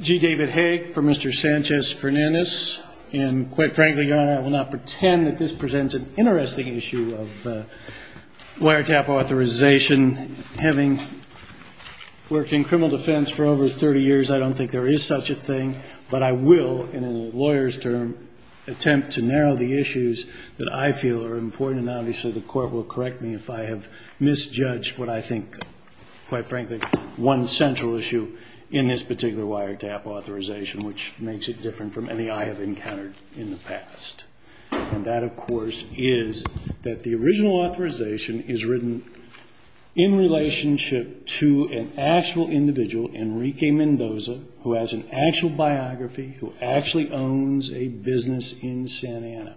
G. David Haig for Mr. Sanchez Fernandez. And quite frankly, Your Honor, I will not pretend that this presents an interesting issue of wiretap authorization. Having worked in criminal defense for over 30 years, I don't think there is such a thing, but I will, in a lawyer's term, attempt to narrow the issues that I feel are important, and obviously the Court will correct me if I have misjudged what I think, quite frankly, one central issue in this particular wiretap authorization, which makes it different from any I have encountered in the past. And that, of course, is that the original authorization is written in relationship to an actual individual, Enrique Mendoza, who has an actual biography, who actually owns a business in Santa Ana.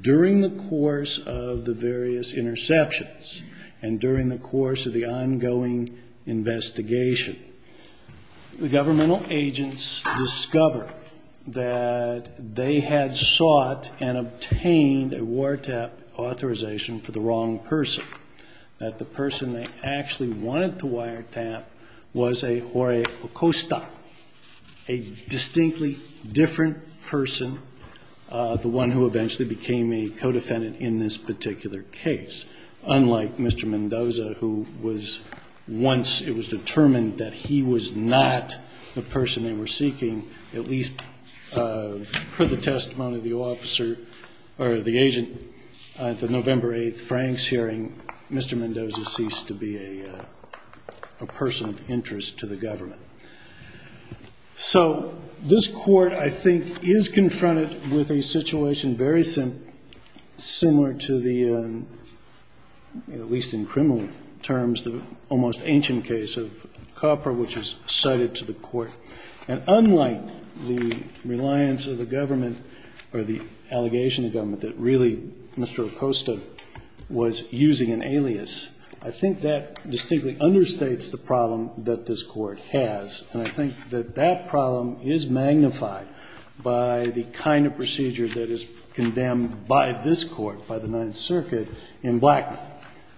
During the course of the various interceptions and during the course of the ongoing investigation, the governmental agents discover that they had sought and obtained a wiretap authorization for the wrong person, that the person they actually wanted to wiretap was a Jorge Acosta, a distinctly different person, the one who eventually became a co-defendant in this particular case, unlike Mr. Mendoza, who was once determined that he was not the person they were seeking, at least per the testimony of the agent at the November 8th Franks hearing, Mr. Mendoza ceased to be a person of interest to the government. So this Court, I think, is confronted with a situation very similar to the, at least in criminal terms, the almost ancient case of Copper, which is cited to the Court. And unlike the reliance of the government or the allegation of the government that really Mr. Acosta was using an alias, I think that distinctly understates the problem that this Court has. And I think that that problem is magnified by the kind of procedure that is condemned by this Court, by the Ninth Circuit, in Blackman,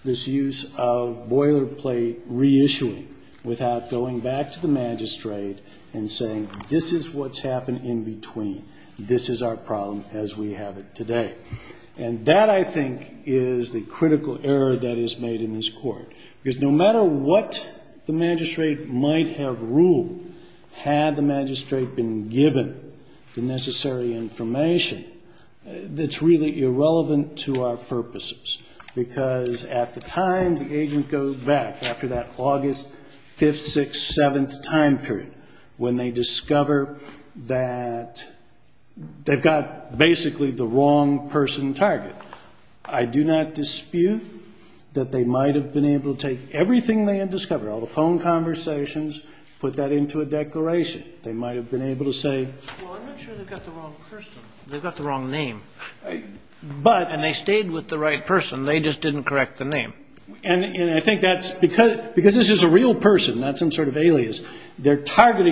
this use of boilerplate reissuing without going back to the magistrate and saying, this is what's happened in between, this is our problem as we have it today. And that, I think, is the critical error that is made in this Court. Because no matter what the magistrate might have ruled, had the magistrate been given the necessary information, that's really irrelevant to our purposes. Because at the time the agent goes back, after that August 5th, 6th, 7th time period, when they discover that they've got basically the wrong person target, I do not dispute that they might have been able to take everything they had discovered, all the phone conversations, put that into a declaration. They might have been able to say... Well, I'm not sure they've got the wrong person. They've got the wrong name. But... And they stayed with the right person, they just didn't correct the name. They're targeting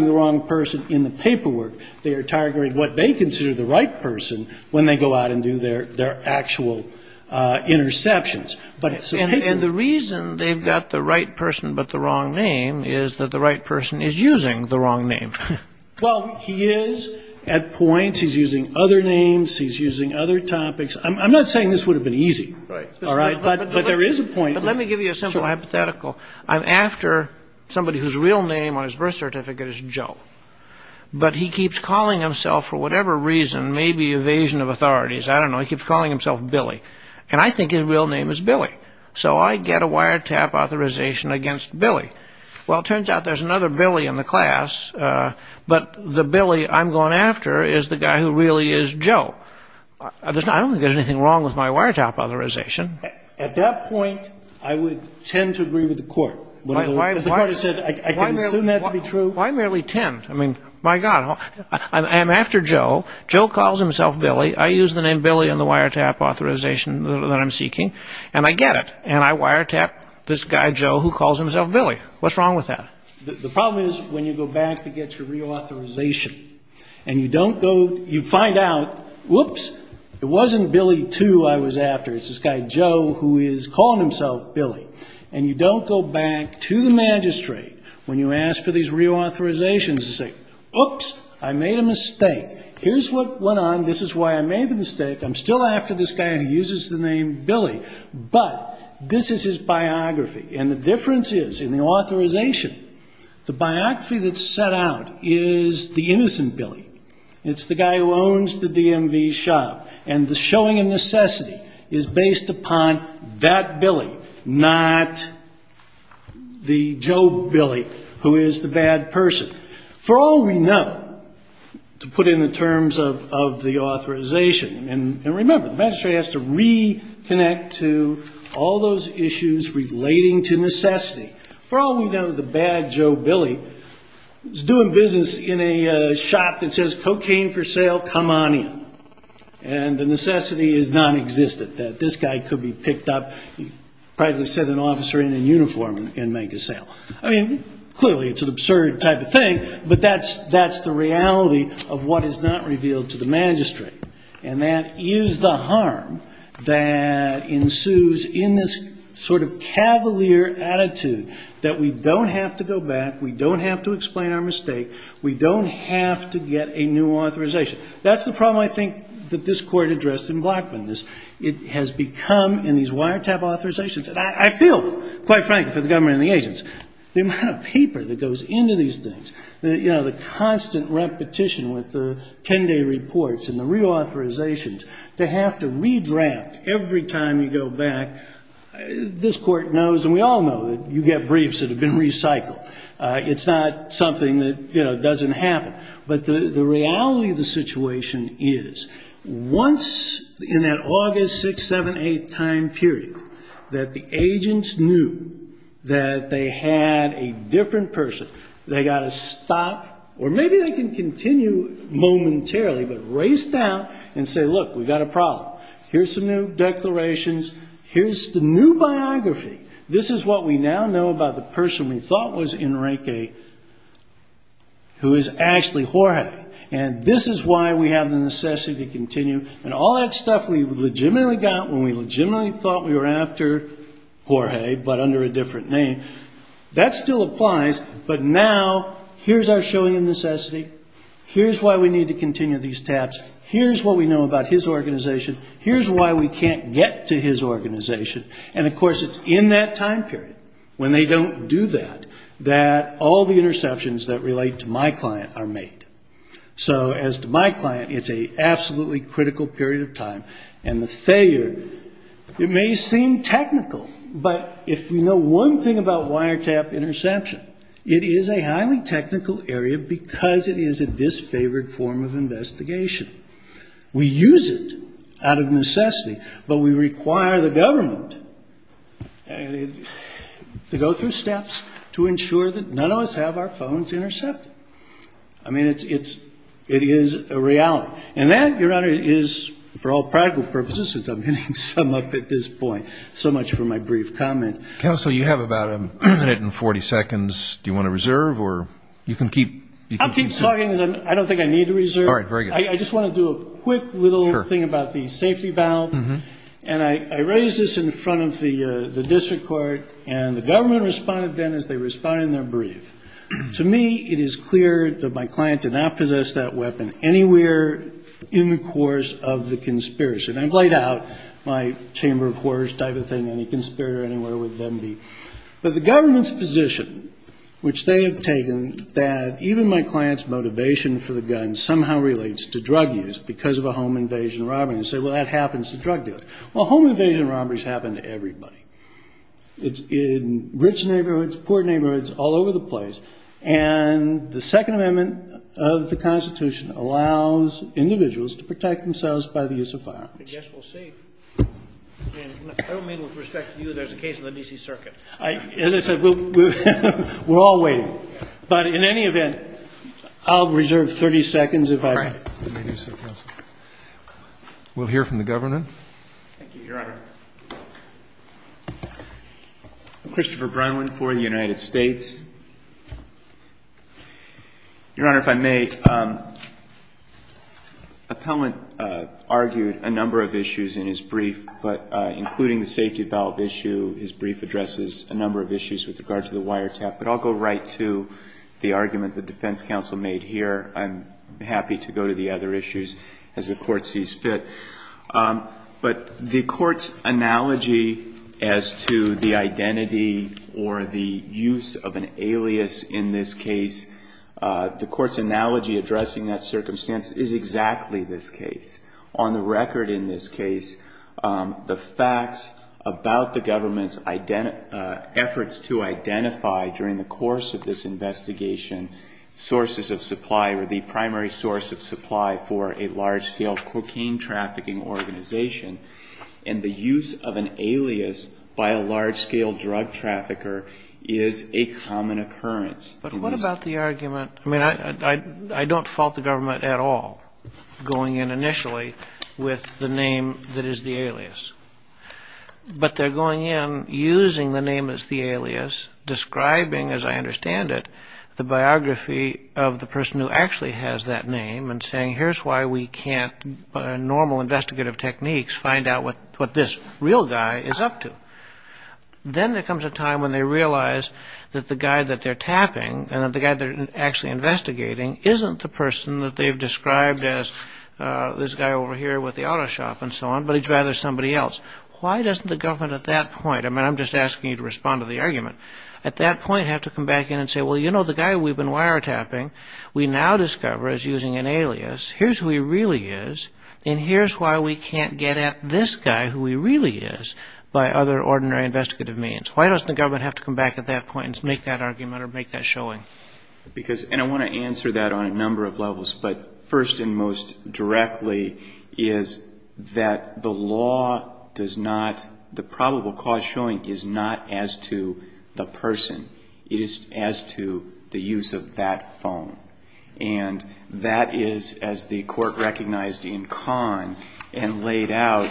the wrong person in the paperwork. They are targeting what they consider the right person when they go out and do their actual interceptions. And the reason they've got the right person but the wrong name is that the right person is using the wrong name. Well, he is at points, he's using other names, he's using other topics. I'm not saying this would have been easy. Right. But there is a point... But let me give you a simple hypothetical. Sure. I'm after somebody whose real name on his birth certificate is Joe. But he keeps calling himself, for whatever reason, maybe evasion of authorities, I don't know, he keeps calling himself Billy. And I think his real name is Billy. So I get a wiretap authorization against Billy. Well, it turns out there's another Billy in the class, but the Billy I'm going after is the guy who really is Joe. I don't think there's anything wrong with my wiretap authorization. At that point, I would tend to agree with the Court. As the Court has said, I can assume that to be true. Why merely tend? I mean, my God, I'm after Joe. Joe calls himself Billy. I use the name Billy on the wiretap authorization that I'm seeking. And I get it. And I wiretap this guy Joe who calls himself Billy. What's wrong with that? The problem is when you go back to get your reauthorization and you don't go, you find out, whoops, it wasn't Billy II I was after. It's this guy Joe who is calling himself Billy. And you don't go back to the magistrate when you ask for these reauthorizations to say, oops, I made a mistake. Here's what went on. This is why I made the mistake. I'm still after this guy who uses the name Billy. But this is his biography. And the difference is in the authorization, the biography that's set out is the innocent Billy. It's the guy who owns the DMV shop. And the showing of necessity is based upon that Billy, not the Joe Billy who is the bad person. For all we know, to put it in terms of the authorization, and remember, the magistrate has to reconnect to all those issues relating to necessity. For all we know, the bad Joe Billy is doing business in a shop that says, cocaine for sale, come on in. And the necessity is nonexistent, that this guy could be picked up, probably send an officer in in uniform and make a sale. I mean, clearly it's an absurd type of thing, but that's the reality of what is not revealed to the magistrate. And that is the harm that ensues in this sort of cavalier attitude that we don't have to go back, we don't have to explain our mistake, we don't have to get a new authorization. That's the problem, I think, that this Court addressed in Blackburn. It has become, in these wiretap authorizations, and I feel, quite frankly, for the government and the agents, the amount of paper that goes into these things, the constant repetition with the 10-day reports and the reauthorizations, they have to redraft every time you go back. This Court knows, and we all know, that you get briefs that have been recycled. It's not something that doesn't happen. But the reality of the situation is, once in that August 6th, 7th, 8th time period, that the agents knew that they had a different person. They've got to stop, or maybe they can continue momentarily, but race down and say, look, we've got a problem, here's some new declarations, here's the new biography. This is what we now know about the person we thought was Enrique, who is actually Jorge. And this is why we have the necessity to continue. And all that stuff we legitimately got when we legitimately thought we were after Jorge, but under a different name, that still applies. But now, here's our showing of necessity. Here's why we need to continue these taps. Here's what we know about his organization. Here's why we can't get to his organization. And, of course, it's in that time period, when they don't do that, that all the interceptions that relate to my client are made. So as to my client, it's an absolutely critical period of time. And the failure, it may seem technical, but if you know one thing about wiretap interception, it is a highly technical area because it is a disfavored form of investigation. We use it out of necessity, but we require the government to go through steps to ensure that none of us have our phones intercepted. I mean, it is a reality. And that, Your Honor, is, for all practical purposes, since I'm hitting some up at this point, so much for my brief comment. Counsel, you have about a minute and 40 seconds. Do you want to reserve? I'll keep talking. I don't think I need to reserve. All right, very good. I just want to do a quick little thing about the safety valve. And I raised this in front of the district court, and the government responded then as they responded in their brief. To me, it is clear that my client did not possess that weapon anywhere in the course of the conspiracy. And I've laid out my chamber of horrors type of thing. Any conspirator anywhere would then be. But the government's position, which they have taken, that even my client's motivation for the gun somehow relates to drug use because of a home invasion robbery, and say, well, that happens to drug dealers. Well, home invasion robberies happen to everybody. It's in rich neighborhoods, poor neighborhoods, all over the place. And the Second Amendment of the Constitution allows individuals to protect themselves by the use of firearms. I guess we'll see. I don't mean with respect to you that there's a case in the D.C. Circuit. As I said, we're all waiting. But in any event, I'll reserve 30 seconds if I may. All right. We'll hear from the governor. Thank you, Your Honor. Christopher Brunlin for the United States. Your Honor, if I may, Appellant argued a number of issues in his brief, but including the safety valve issue, his brief addresses a number of issues with regard to the wiretap. But I'll go right to the argument the defense counsel made here. I'm happy to go to the other issues as the Court sees fit. But the Court's analogy as to the identity or the use of an alias in this case, the Court's analogy addressing that circumstance is exactly this case. On the record in this case, the facts about the government's efforts to identify during the course of this investigation sources of supply or the primary source of supply for a large-scale cocaine trafficking organization and the use of an alias by a large-scale drug trafficker is a common occurrence. But what about the argument? I mean, I don't fault the government at all going in initially with the name that is the alias. But they're going in using the name as the alias, describing, as I understand it, the biography of the person who actually has that name and saying, here's why we can't, by normal investigative techniques, find out what this real guy is up to. Then there comes a time when they realize that the guy that they're tapping and that the guy they're actually investigating isn't the person that they've described as this guy over here with the auto shop and so on, but he's rather somebody else. Why doesn't the government at that point, I mean, I'm just asking you to respond to the argument, at that point have to come back in and say, well, you know, the guy we've been wiretapping, we now discover is using an alias, here's who he really is, and here's why we can't get at this guy, who he really is, by other ordinary investigative means. Why doesn't the government have to come back at that point and make that argument or make that showing? Because, and I want to answer that on a number of levels, but first and most directly is that the law does not, the probable cause showing is not as to the person. It is as to the use of that phone. And that is, as the Court recognized in Kahn and laid out,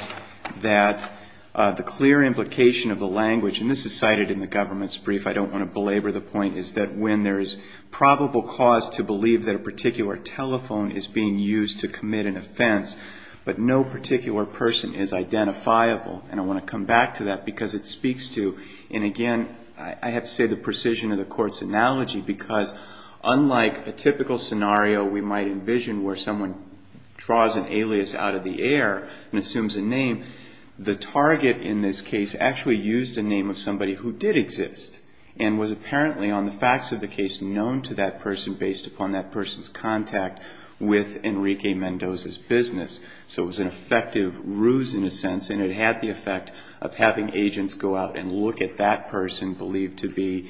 that the clear implication of the language, and this is cited in the government's brief, I don't want to belabor the point, is that when there is probable cause to believe that a particular telephone is being used to commit an offense, but no particular person is identifiable. And I want to come back to that because it speaks to, and again, I have to say the precision of the Court's analogy, because unlike a typical scenario we might envision where someone draws an alias out of the air and assumes a name, the target in this case actually used a name of somebody who did exist and was apparently on the facts of the case known to that person based upon that person's contact with Enrique Mendoza's business. So it was an effective ruse in a sense, and it had the effect of having agents go out and look at that person believed to be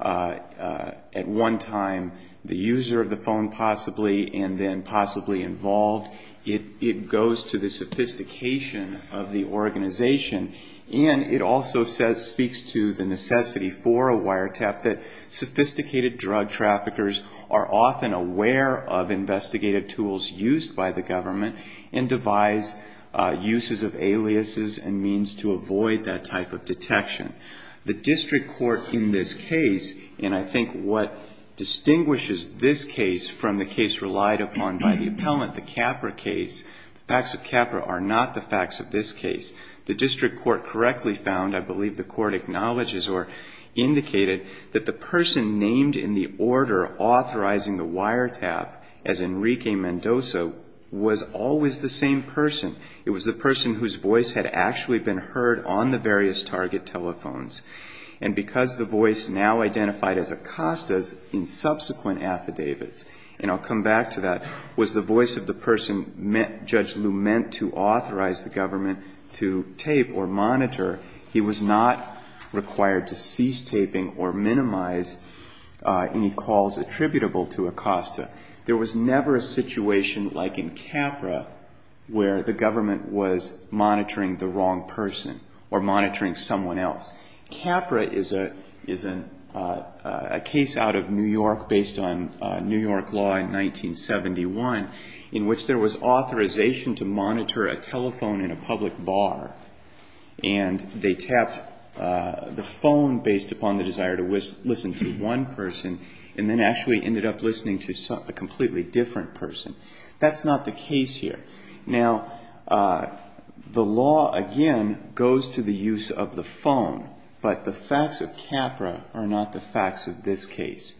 at one time the user of the phone possibly and then possibly involved. It goes to the sophistication of the organization. And it also speaks to the necessity for a wiretap that sophisticated drug traffickers are often aware of investigative tools used by the government and devise uses of aliases and means to avoid that type of detection. The district court in this case, and I think what distinguishes this case from the case relied upon by the appellant, the Capra case, the facts of Capra are not the facts of this case. The district court correctly found, I believe the court acknowledges or indicated, that the person named in the order authorizing the wiretap as Enrique Mendoza was always the same person. It was the person whose voice had actually been heard on the various target telephones. And because the voice now identified as Acosta's in subsequent affidavits, and I'll come back to that, was the voice of the person Judge Lew meant to authorize the government to tape or monitor, he was not required to cease taping or minimize any calls attributable to Acosta. There was never a situation like in Capra where the government was monitoring the wrong person or monitoring someone else. Capra is a case out of New York based on New York law in 1971 in which there was authorization to monitor a telephone in a public bar. And they tapped the phone based upon the desire to listen to one person and then actually ended up listening to a completely different person. That's not the case here. Now, the law, again, goes to the use of the phone, but the facts of Capra are not the facts of this case.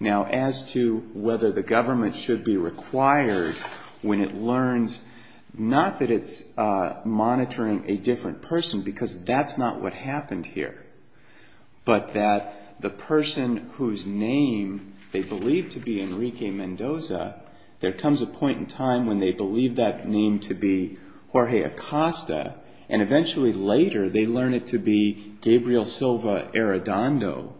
Now, as to whether the government should be required when it learns not that it's monitoring a different person, because that's not what happened here, but that the person whose name they believe to be Enrique Mendoza, there comes a point in time when they believe that name to be Jorge Acosta, and eventually later they learn it to be Gabriel Silva Arredondo,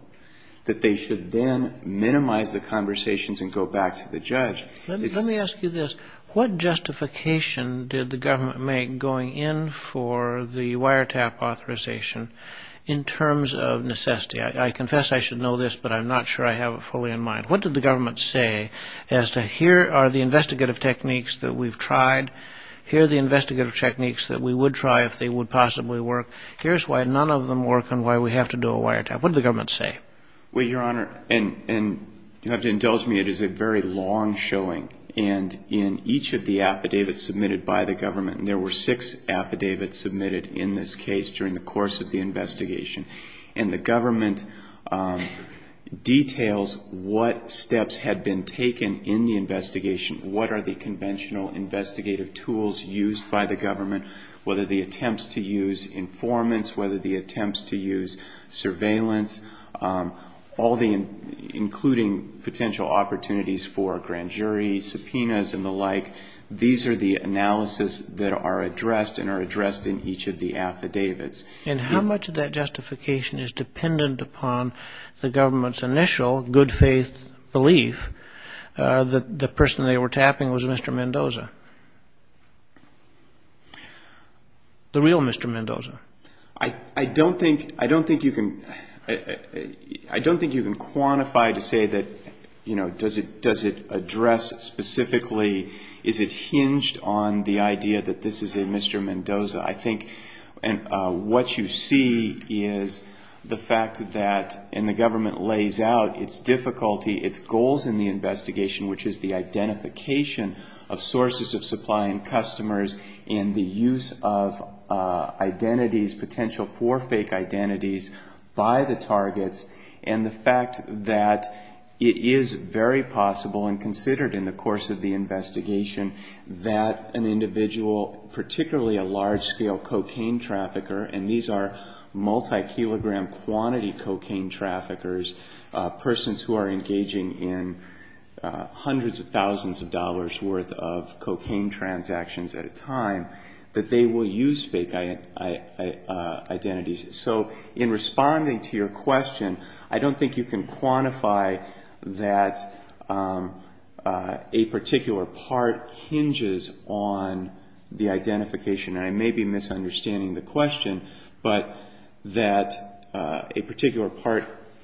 that they should then minimize the conversations and go back to the judge. Let me ask you this. What justification did the government make going in for the wiretap authorization in terms of necessity? I confess I should know this, but I'm not sure I have it fully in mind. What did the government say as to here are the investigative techniques that we've tried, here are the investigative techniques that we would try if they would possibly work, here's why none of them work and why we have to do a wiretap? What did the government say? Well, Your Honor, and you'll have to indulge me, it is a very long showing. And in each of the affidavits submitted by the government, and there were six affidavits submitted in this case during the course of the investigation, and the government details what steps had been taken in the investigation, what are the conventional investigative tools used by the government, whether the attempts to use informants, whether the attempts to use surveillance, all the including potential opportunities for a grand jury, subpoenas and the like, these are the analysis that are addressed and are addressed in each of the affidavits. And how much of that justification is dependent upon the government's initial good faith belief that the person they were tapping was Mr. Mendoza, the real Mr. Mendoza? I don't think you can quantify to say that, you know, does it address specifically, is it hinged on the idea that this is a Mr. Mendoza? I think what you see is the fact that, and the government lays out its difficulty, its goals in the investigation, which is the identification of sources of supply and customers and the use of identities, potential for fake identities by the targets, and the fact that it is very possible and considered in the course of the investigation that an individual, particularly a large-scale cocaine trafficker, and these are multi-kilogram quantity cocaine traffickers, persons who are engaging in hundreds of thousands of dollars' worth of cocaine transactions at a time, that they will use fake identities. So in responding to your question, I don't think you can quantify that a particular part hinges on the identification. And I may be misunderstanding the question, but that a particular part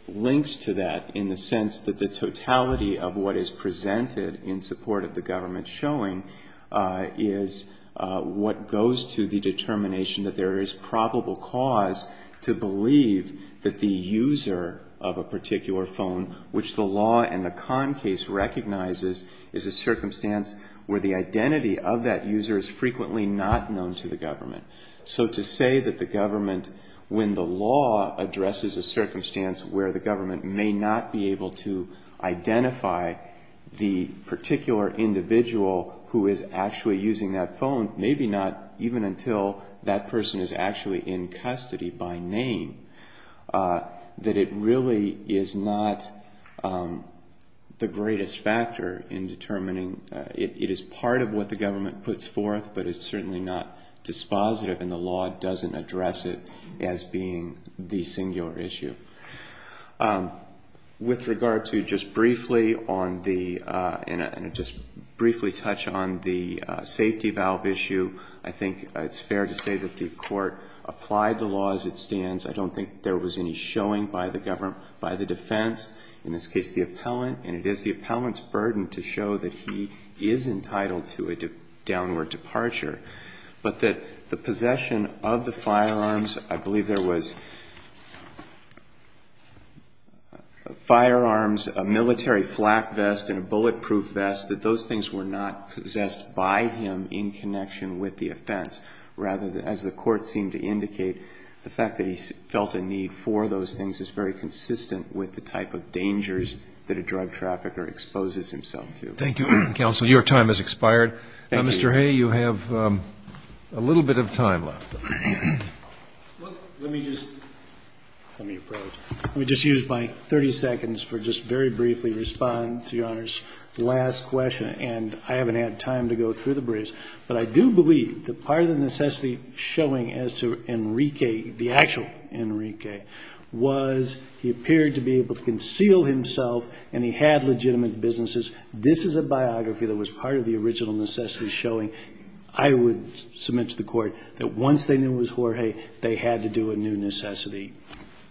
links to that in the sense that the totality of what is presented in support of the government showing is what goes to the determination that there is probable cause to believe that the user of a particular phone, which the law and the Kahn case recognizes, is a circumstance where the identity of that user is frequently not known to the government. So to say that the government, when the law addresses a circumstance where the government may not be able to identify the particular individual who is actually using that phone, maybe not even until that person is actually in custody by name, that it really is not the greatest factor in determining. It is part of what the government puts forth, but it's certainly not dispositive and the law doesn't address it as being the singular issue. With regard to just briefly on the safety valve issue, I think it's fair to say that the Court applied the law as it stands. I don't think there was any showing by the defense, in this case the appellant, and it is the appellant's burden to show that he is entitled to a downward departure, but that the possession of the firearms, I believe there was firearms, a military flak vest and a bulletproof vest, that those things were not possessed by him in connection with the offense. Rather, as the Court seemed to indicate, the fact that he felt a need for those things is very consistent with the type of dangers that a drug trafficker exposes himself to. Thank you, counsel. Your time has expired. Thank you. Mr. Hay, you have a little bit of time left. Let me just use my 30 seconds to just very briefly respond to Your Honor's last question. And I haven't had time to go through the briefs, but I do believe that part of the necessity showing as to Enrique, the actual Enrique, was he appeared to be able to conceal himself and he had legitimate businesses. This is a biography that was part of the original necessity showing. I would submit to the Court that once they knew it was Jorge, they had to do a new necessity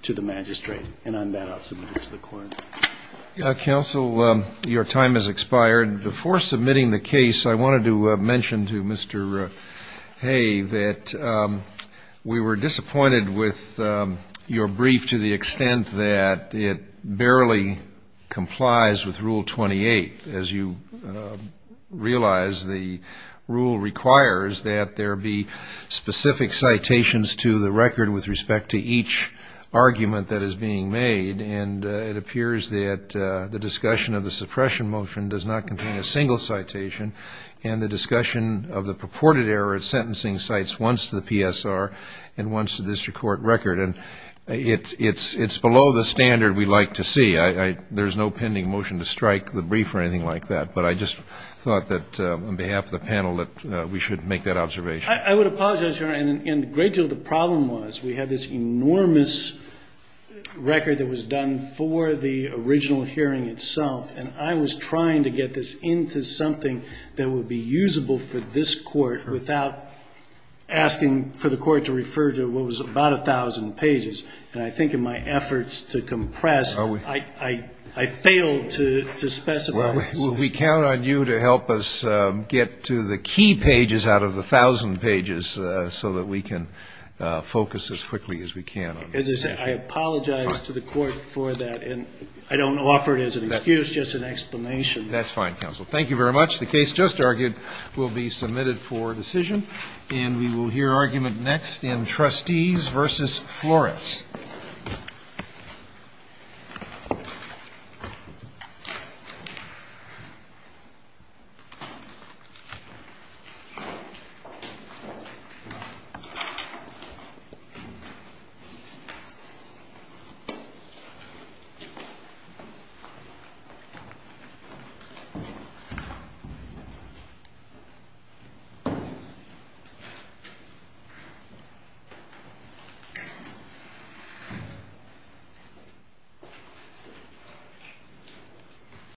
to the magistrate. And on that, I'll submit it to the Court. Counsel, your time has expired. Before submitting the case, I wanted to mention to Mr. Hay that we were disappointed with your brief to the extent that it barely complies with Rule 28. As you realize, the rule requires that there be specific citations to the record with respect to each argument that is being made, and it appears that the discussion of the suppression motion does not contain a single citation, and the discussion of the purported error of sentencing cites once to the PSR and once to the district court record. And it's below the standard we like to see. There's no pending motion to strike the brief or anything like that, but I just thought that on behalf of the panel that we should make that observation. I would apologize, Your Honor, and a great deal of the problem was we had this enormous record that was done for the original hearing itself, and I was trying to get this into something that would be usable for this Court without asking for the Court to refer to what was about 1,000 pages. And I think in my efforts to compress, I failed to specify. Well, we count on you to help us get to the key pages out of the 1,000 pages so that we can focus as quickly as we can. As I said, I apologize to the Court for that, and I don't offer it as an excuse, just an explanation. That's fine, counsel. Thank you very much. The case just argued will be submitted for decision, and we will hear argument next in Trustees v. Flores. Thank you.